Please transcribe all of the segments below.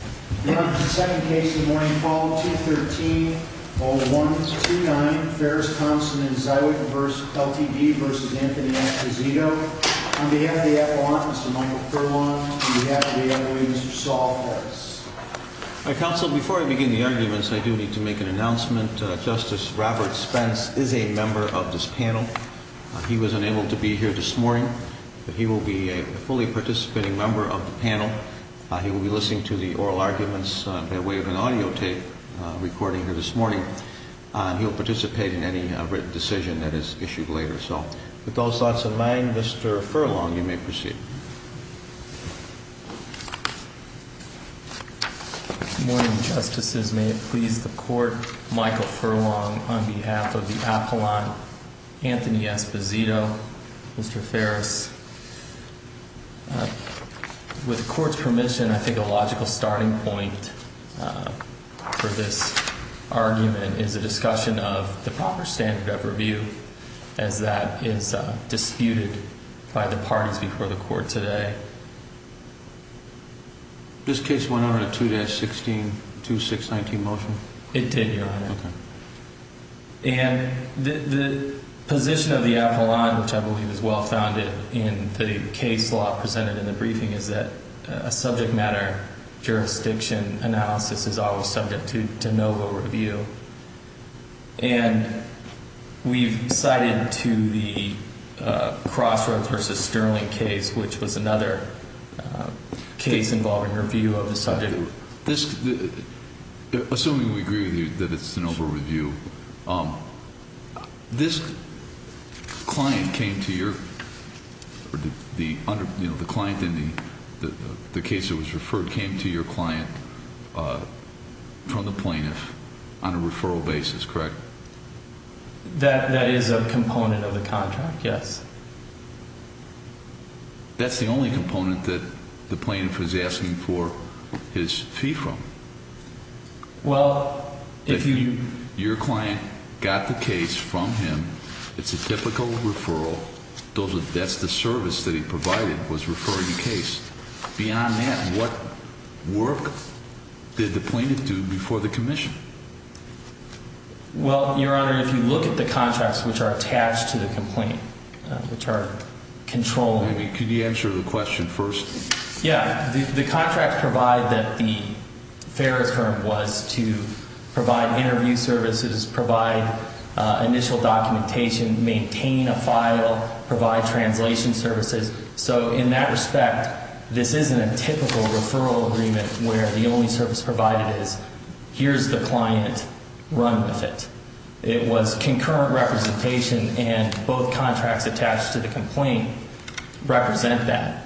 On behalf of the FAA, Mr. Michael Perlon. On behalf of the FAA, Mr. Saul Perez. Counsel, before I begin the arguments, I do need to make an announcement. Justice Robert Spence is a member of this panel. He was unable to be here this morning, but he will be a fully participating member of the panel. He will be listening to the oral arguments by way of an audio tape recording here this morning. He will participate in any written decision that is issued later. With those thoughts in mind, Mr. Perlon, you may proceed. Good morning, Justices. May it please the Court, Michael Perlon, on behalf of the appellant, Anthony Esposito, Mr. Ferris. With the Court's permission, I think a logical starting point for this argument is a discussion of the proper standard of review as that is disputed by the parties before the Court today. This case went on a 2-16, 2-619 motion? And the position of the appellant, which I believe is well-founded in the case law presented in the briefing, is that a subject matter jurisdiction analysis is always subject to NOVA review. And we've cited to the Crossroads v. Sterling case, which was another case involving review of the subject matter. Assuming we agree with you that it's a NOVA review, this client came to your – the client in the case that was referred came to your client from the plaintiff on a referral basis, correct? That is a component of the contract, yes. That's the only component that the plaintiff is asking for his fee from. Well, if you – Your client got the case from him. It's a typical referral. That's the service that he provided, was referring the case. Beyond that, what work did the plaintiff do before the commission? Well, Your Honor, if you look at the contracts which are attached to the complaint, which are controlled – Could you answer the question first? Yeah. The contracts provide that the fare return was to provide interview services, provide initial documentation, maintain a file, provide translation services. So in that respect, this isn't a typical referral agreement where the only service provided is here's the client, run with it. It was concurrent representation, and both contracts attached to the complaint represent that.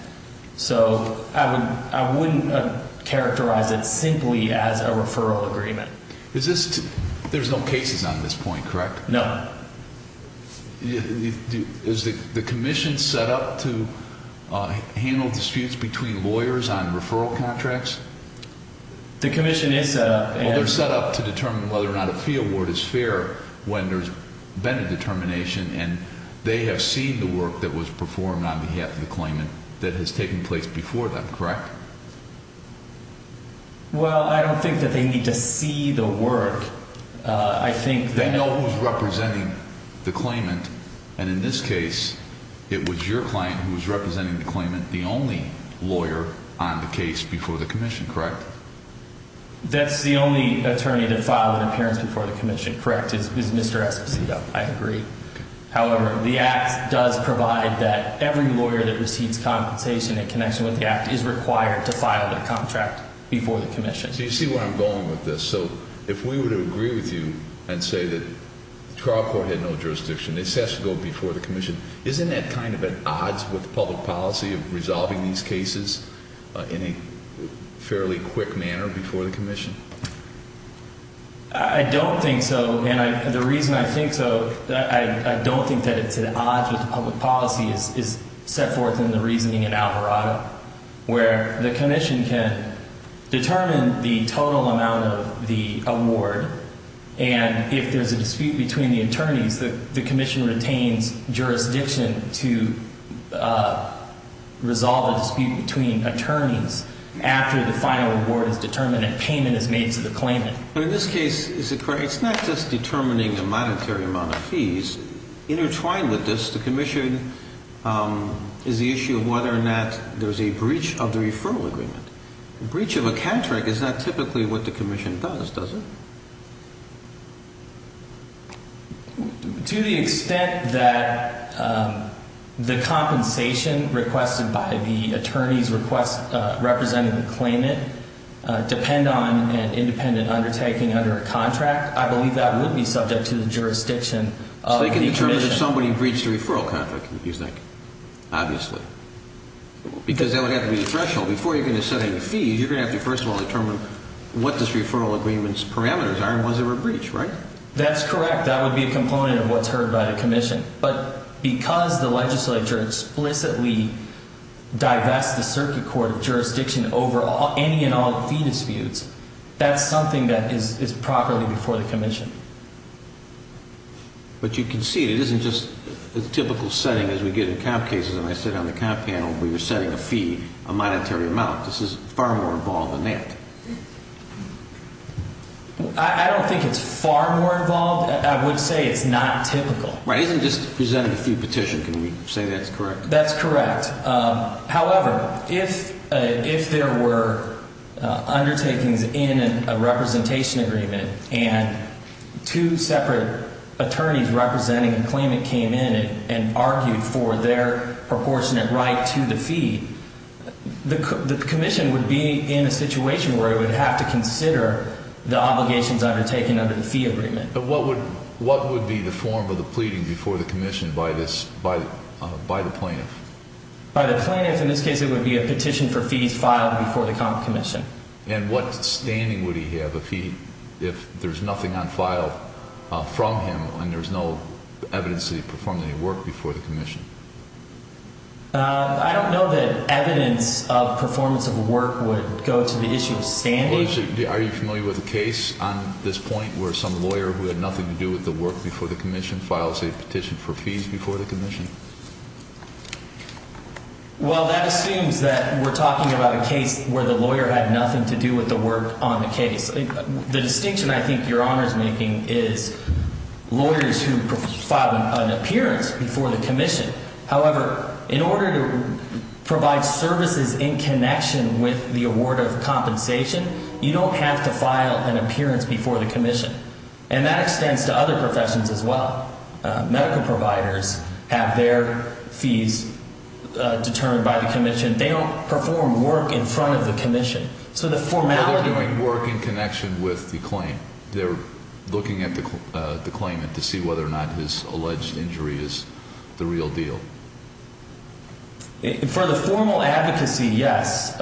So I wouldn't characterize it simply as a referral agreement. Is this – there's no cases on this point, correct? No. Is the commission set up to handle disputes between lawyers on referral contracts? The commission is set up and – Well, they're set up to determine whether or not a fee award is fair when there's been a determination, and they have seen the work that was performed on behalf of the claimant that has taken place before them, correct? Well, I don't think that they need to see the work. I think that – And in this case, it was your client who was representing the claimant, the only lawyer on the case before the commission, correct? That's the only attorney to file an appearance before the commission, correct, is Mr. Esposito. I agree. However, the Act does provide that every lawyer that receives compensation in connection with the Act is required to file their contract before the commission. So you see where I'm going with this. So if we were to agree with you and say that the trial court had no jurisdiction, this has to go before the commission, isn't that kind of at odds with the public policy of resolving these cases in a fairly quick manner before the commission? I don't think so, and the reason I think so – I don't think that it's at odds with the public policy is set forth in the reasoning in Alvarado, where the commission can determine the total amount of the award, and if there's a dispute between the attorneys, the commission retains jurisdiction to resolve a dispute between attorneys after the final award is determined and payment is made to the claimant. But in this case, is it correct – it's not just determining the monetary amount of fees. Intertwined with this, the commission is the issue of whether or not there's a breach of the referral agreement. A breach of a contract is not typically what the commission does, does it? To the extent that the compensation requested by the attorneys representing the claimant depend on an independent undertaking under a contract, I believe that would be subject to the jurisdiction of the commission. But what if somebody breached a referral contract, do you think? Obviously. Because that would have to be the threshold. Before you're going to set any fees, you're going to have to first of all determine what this referral agreement's parameters are and was there a breach, right? That's correct. That would be a component of what's heard by the commission. But because the legislature explicitly divests the circuit court of jurisdiction over any and all fee disputes, that's something that is properly before the commission. But you can see it isn't just a typical setting as we get in comp cases. And I said on the comp panel we were setting a fee, a monetary amount. This is far more involved than that. I don't think it's far more involved. I would say it's not typical. Right. It isn't just presenting a fee petition, can we say that's correct? That's correct. However, if there were undertakings in a representation agreement and two separate attorneys representing the claimant came in and argued for their proportionate right to the fee, the commission would be in a situation where it would have to consider the obligations undertaken under the fee agreement. But what would be the form of the pleading before the commission by the plaintiff? By the plaintiff, in this case it would be a petition for fees filed before the comp commission. And what standing would he have if there's nothing on file from him and there's no evidence that he performed any work before the commission? I don't know that evidence of performance of work would go to the issue of standing. Are you familiar with a case on this point where some lawyer who had nothing to do with the work before the commission files a petition for fees before the commission? Well, that assumes that we're talking about a case where the lawyer had nothing to do with the work on the case. The distinction I think Your Honor is making is lawyers who filed an appearance before the commission. However, in order to provide services in connection with the award of compensation, you don't have to file an appearance before the commission. And that extends to other professions as well. Medical providers have their fees determined by the commission. They don't perform work in front of the commission. Well, they're doing work in connection with the claim. They're looking at the claimant to see whether or not his alleged injury is the real deal. For the formal advocacy, yes.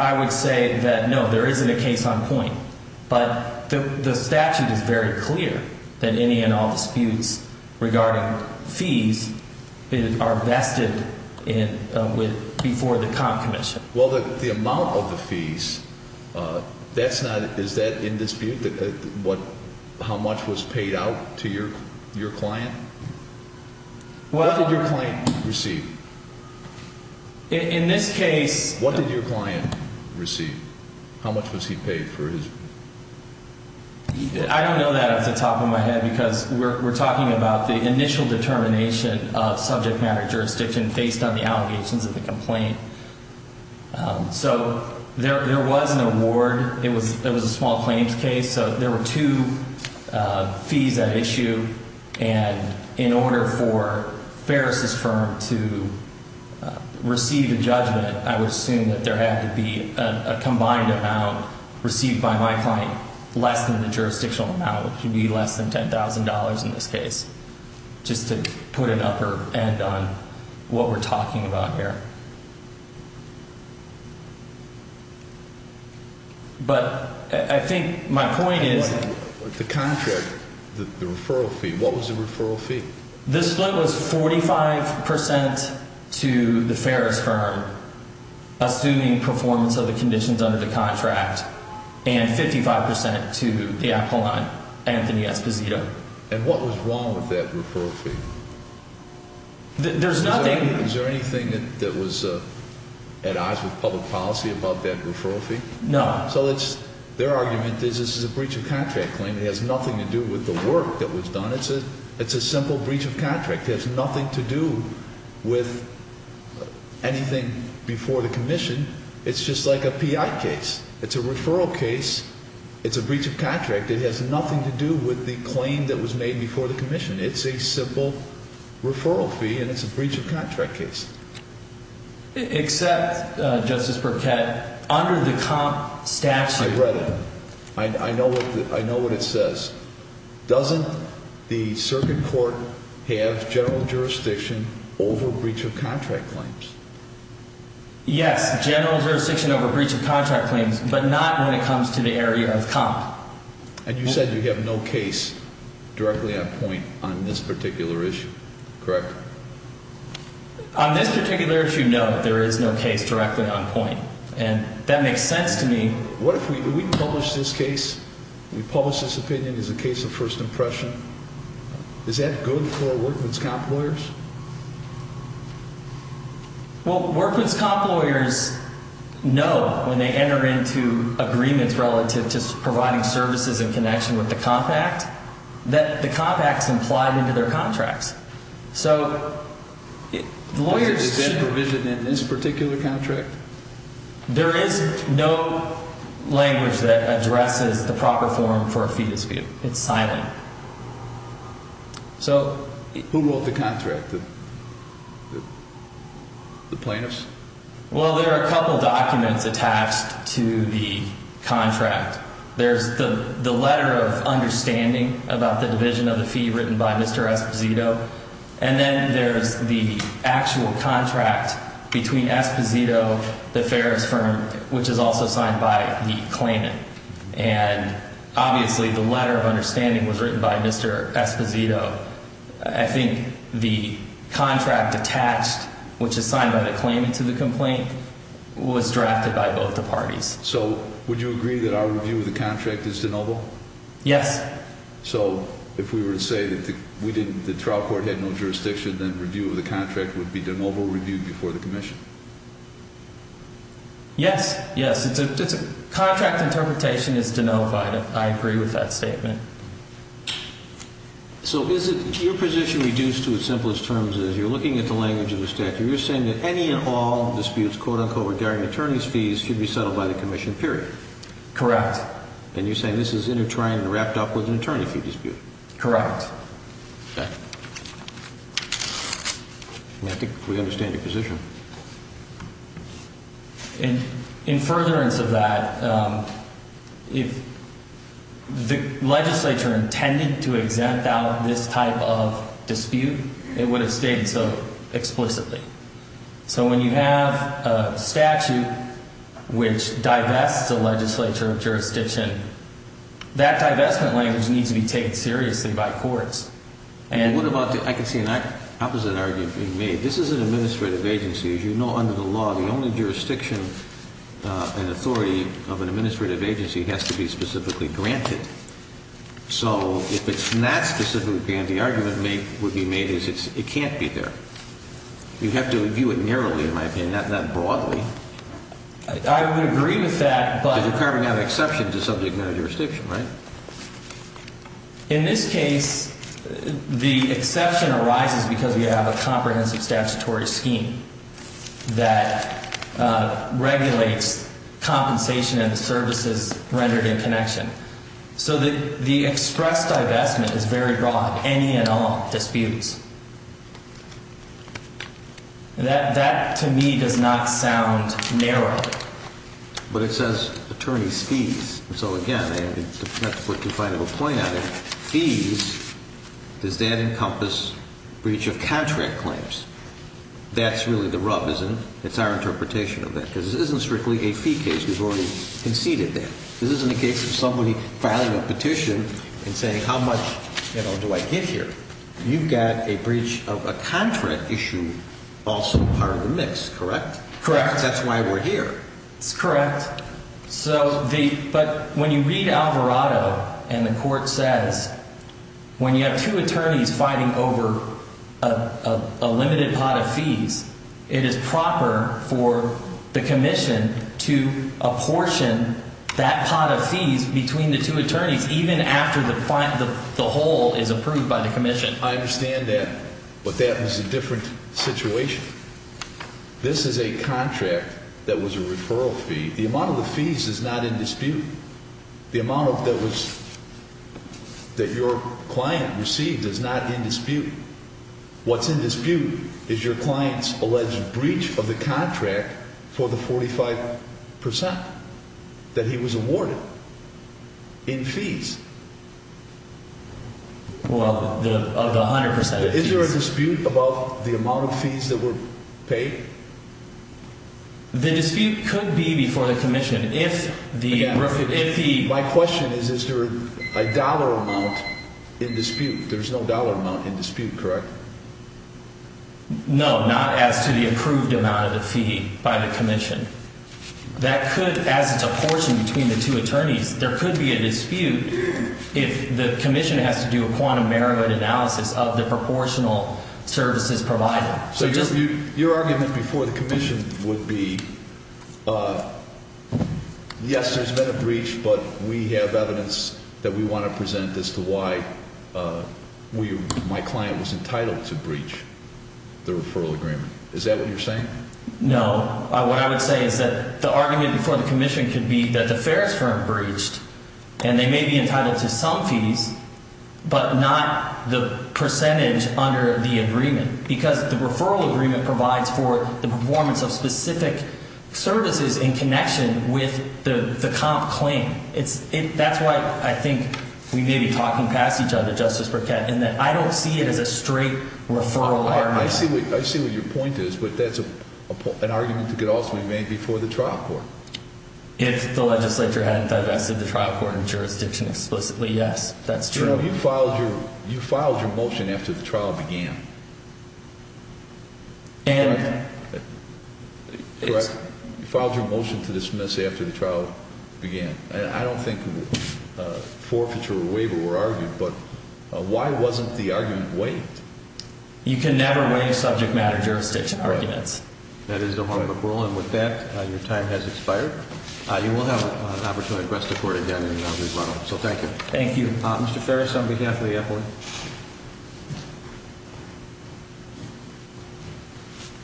I would say that no, there isn't a case on point. But the statute is very clear that any and all disputes regarding fees are vested before the comp commission. Well, the amount of the fees, is that in dispute? How much was paid out to your client? What did your client receive? In this case... What did your client receive? How much was he paid for his... I don't know that off the top of my head because we're talking about the initial determination of subject matter jurisdiction based on the allegations of the complaint. So there was an award. It was a small claims case. So there were two fees at issue. And in order for Ferris' firm to receive a judgment, I would assume that there had to be a combined amount received by my client less than the jurisdictional amount, which would be less than $10,000 in this case. Just to put an upper end on what we're talking about here. But I think my point is... The contract, the referral fee, what was the referral fee? This split was 45% to the Ferris firm, assuming performance of the conditions under the contract, and 55% to the appellant, Anthony Esposito. And what was wrong with that referral fee? There's nothing... Is there anything that was at odds with public policy about that referral fee? No. So their argument is this is a breach of contract claim. It has nothing to do with the work that was done. It's a simple breach of contract. It has nothing to do with anything before the commission. It's just like a PI case. It's a referral case. It's a breach of contract. It has nothing to do with the claim that was made before the commission. It's a simple referral fee, and it's a breach of contract case. Except, Justice Burkett, under the COMP statute... I read it. I know what it says. Doesn't the circuit court have general jurisdiction over breach of contract claims? Yes, general jurisdiction over breach of contract claims, but not when it comes to the area of COMP. And you said you have no case directly on point on this particular issue, correct? On this particular issue, no, there is no case directly on point, and that makes sense to me. What if we publish this case? We publish this opinion as a case of first impression. Is that good for workman's comp lawyers? Well, workman's comp lawyers know when they enter into agreements relative to providing services in connection with the COMP Act that the COMP Act is implied into their contracts. So lawyers should... Is there provision in this particular contract? There is no language that addresses the proper form for a fetus view. It's silent. Who wrote the contract? The plaintiffs? Well, there are a couple documents attached to the contract. There's the letter of understanding about the division of the fee written by Mr. Esposito. And then there's the actual contract between Esposito, the Ferris firm, which is also signed by the claimant. And obviously the letter of understanding was written by Mr. Esposito. I think the contract attached, which is signed by the claimant to the complaint, was drafted by both the parties. So would you agree that our review of the contract is de novo? Yes. So if we were to say that the trial court had no jurisdiction, then review of the contract would be de novo review before the commission? Yes, yes. Contract interpretation is de novo. I agree with that statement. So is your position reduced to as simple as terms as you're looking at the language of the statute? You're saying that any and all disputes, quote-unquote, regarding attorney's fees should be settled by the commission, period? Correct. And you're saying this is intertwined and wrapped up with an attorney fee dispute? Correct. I think we understand your position. In furtherance of that, if the legislature intended to exempt out this type of dispute, it would have stated so explicitly. So when you have a statute which divests the legislature of jurisdiction, that divestment language needs to be taken seriously by courts. I can see an opposite argument being made. This is an administrative agency. As you know, under the law, the only jurisdiction and authority of an administrative agency has to be specifically granted. So if it's not specifically granted, the argument would be made is it can't be there. You'd have to view it narrowly, in my opinion, not broadly. I would agree with that. Because you're carving out an exception to subject matter jurisdiction, right? In this case, the exception arises because we have a comprehensive statutory scheme that regulates compensation and services rendered in connection. So the express divestment is very broad in any and all disputes. That, to me, does not sound narrow. But it says attorney's fees. So, again, that's what you're trying to point at. Fees, does that encompass breach of contract claims? That's really the rub, isn't it? It's our interpretation of that. Because this isn't strictly a fee case. We've already conceded that. This isn't a case of somebody filing a petition and saying how much, you know, do I get here? You've got a breach of a contract issue also part of the mix, correct? Correct. That's why we're here. It's correct. But when you read Alvarado and the court says when you have two attorneys fighting over a limited pot of fees, it is proper for the commission to apportion that pot of fees between the two attorneys even after the whole is approved by the commission. I understand that. But that was a different situation. This is a contract that was a referral fee. The amount of the fees is not in dispute. The amount that your client received is not in dispute. What's in dispute is your client's alleged breach of the contract for the 45% that he was awarded in fees. Well, of the 100% of fees. Is there a dispute about the amount of fees that were paid? The dispute could be before the commission. My question is, is there a dollar amount in dispute? There's no dollar amount in dispute, correct? No, not as to the approved amount of the fee by the commission. That could, as it's apportioned between the two attorneys, there could be a dispute if the commission has to do a quantum merit analysis of the proportional services provided. So your argument before the commission would be, yes, there's been a breach, but we have evidence that we want to present as to why my client was entitled to breach the referral agreement. Is that what you're saying? No. What I would say is that the argument before the commission could be that the Ferris firm breached, and they may be entitled to some fees, but not the percentage under the agreement. Because the referral agreement provides for the performance of specific services in connection with the comp claim. That's why I think we may be talking past each other, Justice Burkett, in that I don't see it as a straight referral argument. I see what your point is, but that's an argument that could also be made before the trial court. If the legislature hadn't divested the trial court and jurisdiction explicitly, yes, that's true. You filed your motion after the trial began. Correct. You filed your motion to dismiss after the trial began. I don't think forfeiture or waiver were argued, but why wasn't the argument waived? You can never waive subject matter jurisdiction arguments. That is the homework rule. And with that, your time has expired. You will have an opportunity to address the court again in the round of rebuttal. So thank you. Thank you. Mr. Ferris, on behalf of the FOIA.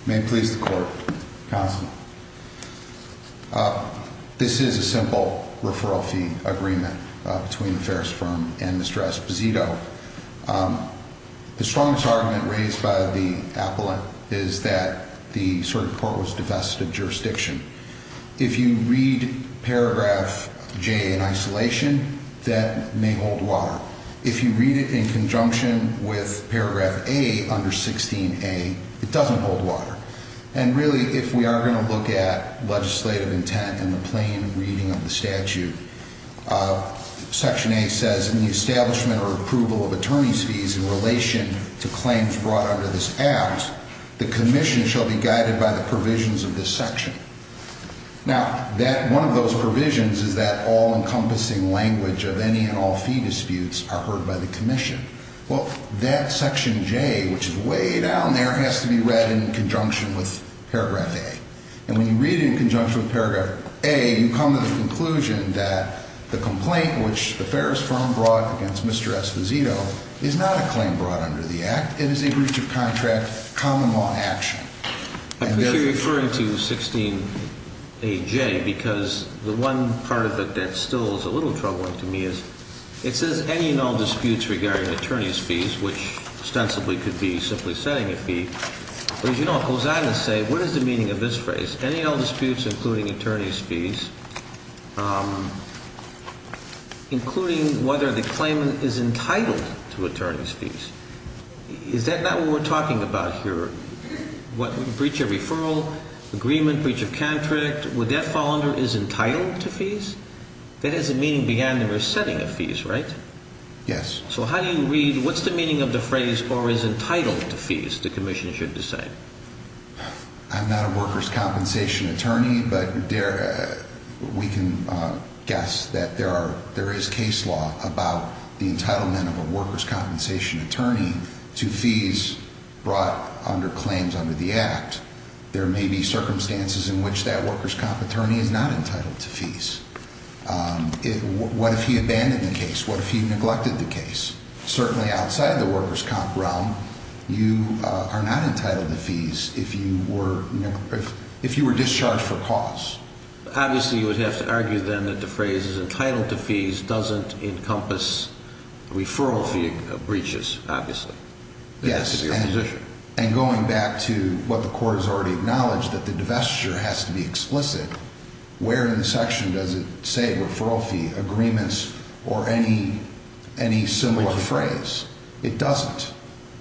May it please the Court, Counsel. This is a simple referral fee agreement between the Ferris firm and Ms. Draspizito. The strongest argument raised by the appellant is that the circuit court was divested of jurisdiction. If you read paragraph J in isolation, that may hold water. If you read it in conjunction with paragraph A under 16A, it doesn't hold water. And really, if we are going to look at legislative intent in the plain reading of the statute, section A says, in the establishment or approval of attorney's fees in relation to claims brought under this act, the commission shall be guided by the provisions of this section. Now, one of those provisions is that all-encompassing language of any and all fee disputes are heard by the commission. Well, that section J, which is way down there, has to be read in conjunction with paragraph A. And when you read it in conjunction with paragraph A, you come to the conclusion that the complaint, which the Ferris firm brought against Mr. Esposito, is not a claim brought under the act. It is a breach of contract common law action. I appreciate you referring to 16AJ, because the one part of it that still is a little troubling to me is, it says any and all disputes regarding attorney's fees, which ostensibly could be simply setting a fee. But, as you know, it goes on to say, what is the meaning of this phrase? Any and all disputes including attorney's fees, including whether the claimant is entitled to attorney's fees. Is that not what we're talking about here? Breach of referral, agreement, breach of contract, would that fall under is entitled to fees? That has a meaning beyond the setting of fees, right? Yes. So how do you read, what's the meaning of the phrase, or is entitled to fees, the commission should decide? I'm not a workers' compensation attorney, but we can guess that there is case law about the entitlement of a workers' compensation attorney to fees brought under claims under the act. There may be circumstances in which that workers' compensation attorney is not entitled to fees. What if he abandoned the case? What if he neglected the case? Certainly outside of the workers' comp realm, you are not entitled to fees if you were discharged for cause. Obviously you would have to argue then that the phrase entitled to fees doesn't encompass referral fee breaches, obviously. Yes. It has to be a position. And going back to what the court has already acknowledged, that the divestiture has to be explicit. Where in the section does it say referral fee agreements or any similar phrase? It doesn't.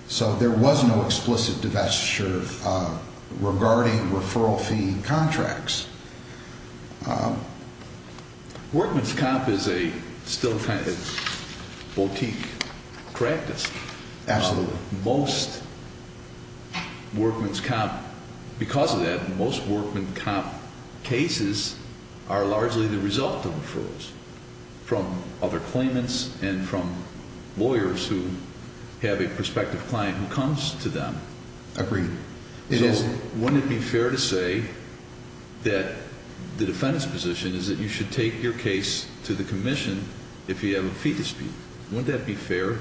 So there was no explicit divestiture regarding referral fee contracts. Workman's comp is still a boutique practice. Absolutely. Because of that, most workman's comp cases are largely the result of referrals from other claimants and from lawyers who have a prospective client who comes to them. Agreed. Wouldn't it be fair to say that the defendant's position is that you should take your case to the commission if you have a fee dispute? Wouldn't that be fair?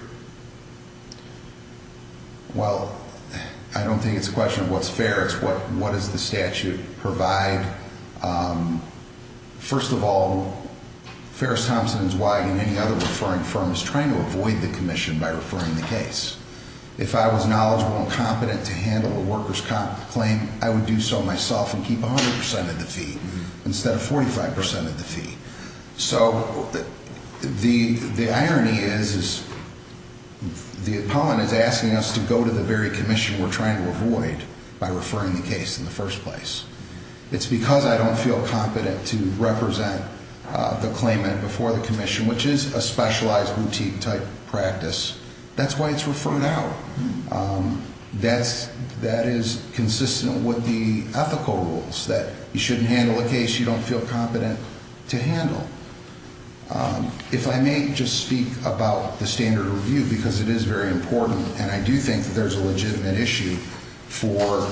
Well, I don't think it's a question of what's fair. It's what does the statute provide. First of all, Ferris Thompson & Zweig and any other referring firm is trying to avoid the commission by referring the case. If I was knowledgeable and competent to handle a worker's comp claim, I would do so myself and keep 100% of the fee instead of 45% of the fee. So the irony is the opponent is asking us to go to the very commission we're trying to avoid by referring the case in the first place. It's because I don't feel competent to represent the claimant before the commission, which is a specialized boutique-type practice. That's why it's referred out. That is consistent with the ethical rules that you shouldn't handle a case you don't feel competent to handle. If I may just speak about the standard of review, because it is very important and I do think there's a legitimate issue for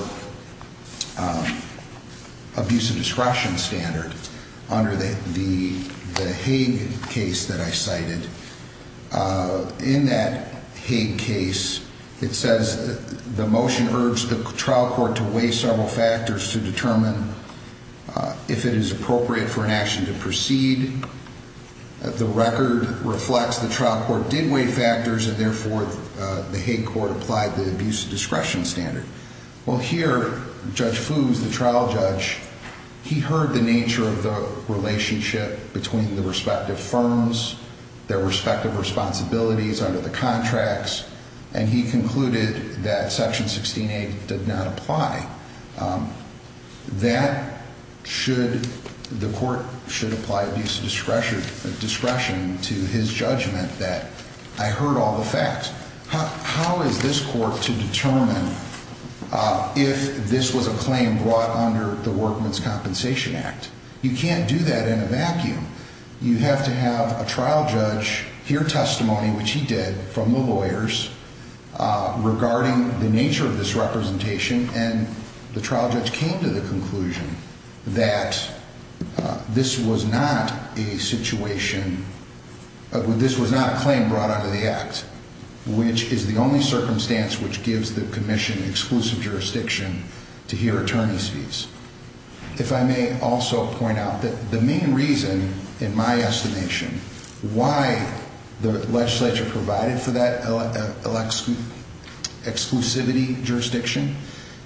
abuse of discretion standard. Under the Hague case that I cited, in that Hague case, it says the motion urged the trial court to weigh several factors to determine if it is appropriate for an action to proceed. The record reflects the trial court did weigh factors and therefore the Hague court applied the abuse of discretion standard. Well, here, Judge Foos, the trial judge, he heard the nature of the relationship between the respective firms, their respective responsibilities under the contracts, and he concluded that Section 16A did not apply. That should, the court should apply abuse of discretion to his judgment that I heard all the facts. How is this court to determine if this was a claim brought under the Workman's Compensation Act? You can't do that in a vacuum. You have to have a trial judge hear testimony, which he did, from the lawyers regarding the nature of this representation. And the trial judge came to the conclusion that this was not a situation, this was not a claim brought under the Act, which is the only circumstance which gives the commission exclusive jurisdiction to hear attorney's fees. If I may also point out that the main reason, in my estimation, why the legislature provided for that exclusivity jurisdiction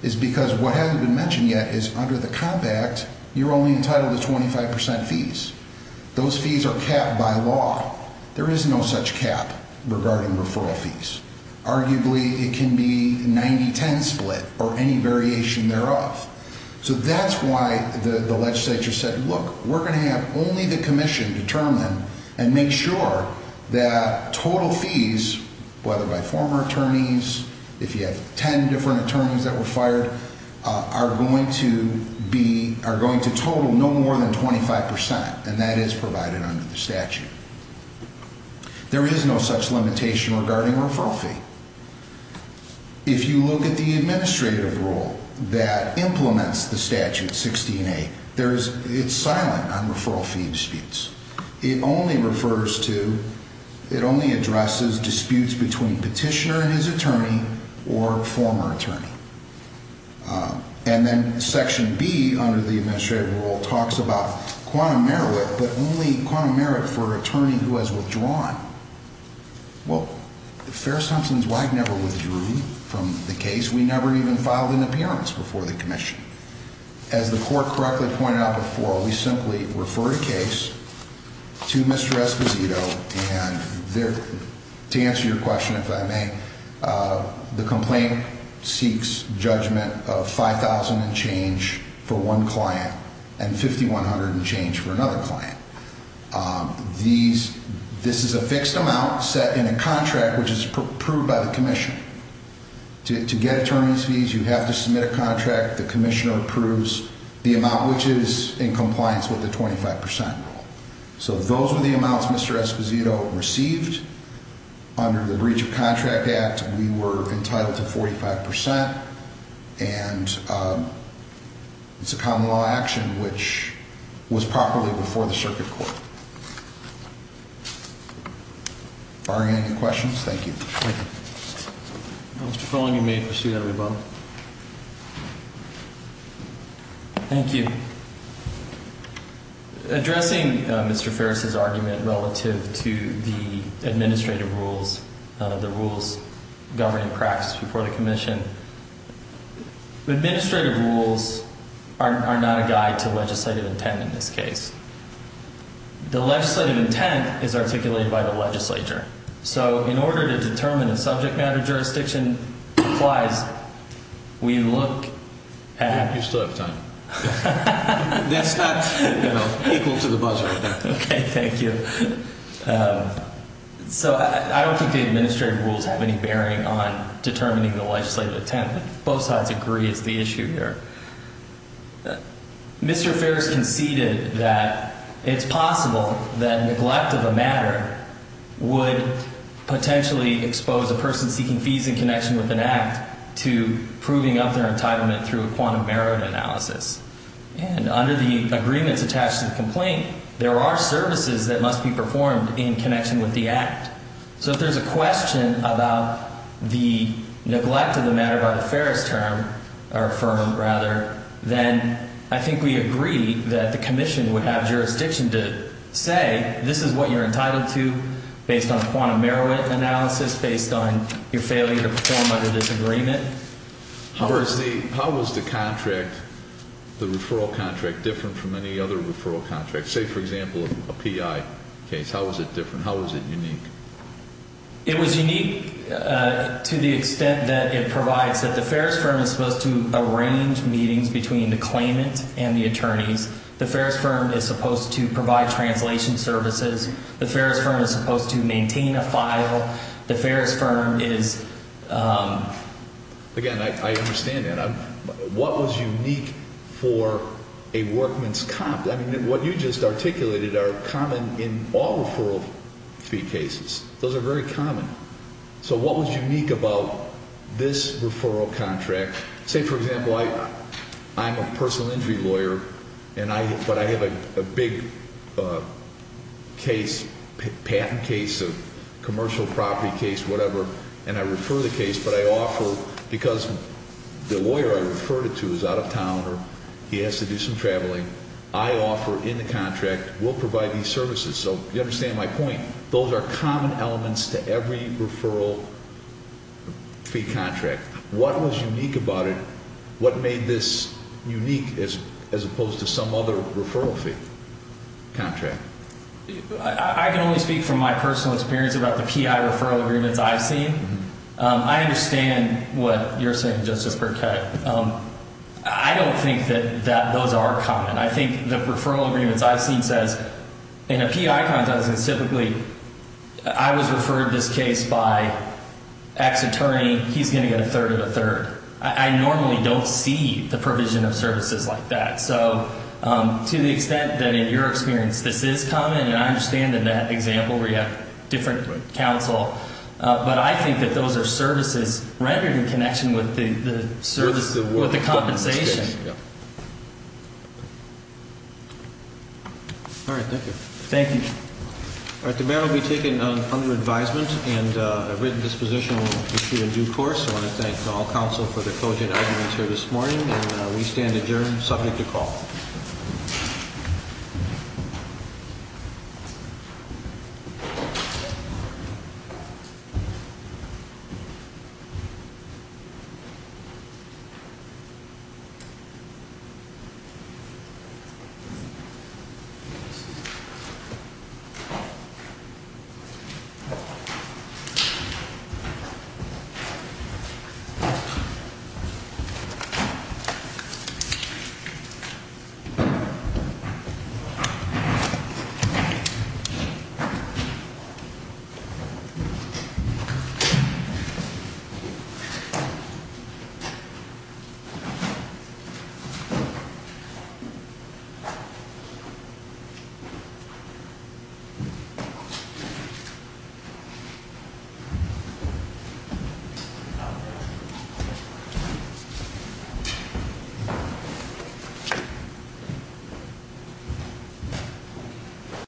is because what hasn't been mentioned yet is under the Comp Act, you're only entitled to 25% fees. Those fees are capped by law. There is no such cap regarding referral fees. Arguably, it can be 90-10 split or any variation thereof. So that's why the legislature said, look, we're going to have only the commission determine and make sure that total fees, whether by former attorneys, if you have 10 different attorneys that were fired, are going to total no more than 25%. And that is provided under the statute. There is no such limitation regarding referral fee. If you look at the administrative rule that implements the statute, 16A, it's silent on referral fee disputes. It only refers to, it only addresses disputes between petitioner and his attorney or former attorney. And then Section B, under the administrative rule, talks about quantum merit, but only quantum merit for an attorney who has withdrawn. Well, Ferris-Hudson's WAC never withdrew from the case. We never even filed an appearance before the commission. As the court correctly pointed out before, we simply refer a case to Mr. Esposito, and to answer your question, if I may, the complaint seeks judgment of $5,000 and change for one client and $5,100 and change for another client. This is a fixed amount set in a contract, which is approved by the commission. To get attorney's fees, you have to submit a contract. The commissioner approves the amount, which is in compliance with the 25% rule. So those were the amounts Mr. Esposito received. Under the Breach of Contract Act, we were entitled to 45%. And it's a common law action, which was properly before the circuit court. Are there any questions? Thank you. Thank you. Mr. Folling, you may pursue that way, Bob. Thank you. Addressing Mr. Ferris's argument relative to the administrative rules, the rules governing practice before the commission, the administrative rules are not a guide to legislative intent in this case. The legislative intent is articulated by the legislature. So in order to determine if subject matter jurisdiction applies, we look at. You still have time. That's not equal to the buzzer. Okay, thank you. So I don't think the administrative rules have any bearing on determining the legislative intent. Both sides agree it's the issue here. Mr. Ferris conceded that it's possible that neglect of a matter would potentially expose a person seeking fees in connection with an act to proving up their entitlement through a quantum merit analysis. And under the agreements attached to the complaint, there are services that must be performed in connection with the act. So if there's a question about the neglect of the matter by the Ferris term, or firm rather, then I think we agree that the commission would have jurisdiction to say this is what you're entitled to based on a quantum merit analysis, based on your failure to perform under this agreement. How was the contract, the referral contract, different from any other referral contract? Say, for example, a PI case. How was it different? How was it unique? It was unique to the extent that it provides that the Ferris firm is supposed to arrange meetings between the claimant and the attorneys. The Ferris firm is supposed to provide translation services. The Ferris firm is supposed to maintain a file. The Ferris firm is— Again, I understand that. What was unique for a workman's—I mean, what you just articulated are common in all referral fee cases. Those are very common. So what was unique about this referral contract? Say, for example, I'm a personal injury lawyer, but I have a big case, patent case, a commercial property case, whatever, and I refer the case, but I offer—because the lawyer I referred it to is out of town or he has to do some traveling, I offer in the contract, we'll provide these services. So you understand my point. Those are common elements to every referral fee contract. What was unique about it? What made this unique as opposed to some other referral fee contract? I can only speak from my personal experience about the PI referral agreements I've seen. I understand what you're saying, Justice Burkett. I don't think that those are common. I think the referral agreements I've seen says, in a PI contract, typically I was referred to this case by X attorney. He's going to get a third of a third. I normally don't see the provision of services like that. So to the extent that in your experience this is common, and I understand in that example where you have different counsel, but I think that those are services rendered in connection with the service—with the compensation. All right, thank you. Thank you. All right, the matter will be taken under advisement and a written disposition will be issued in due course. I want to thank all counsel for their cogent arguments here this morning, and we stand adjourned, subject to call. Thank you. Thank you.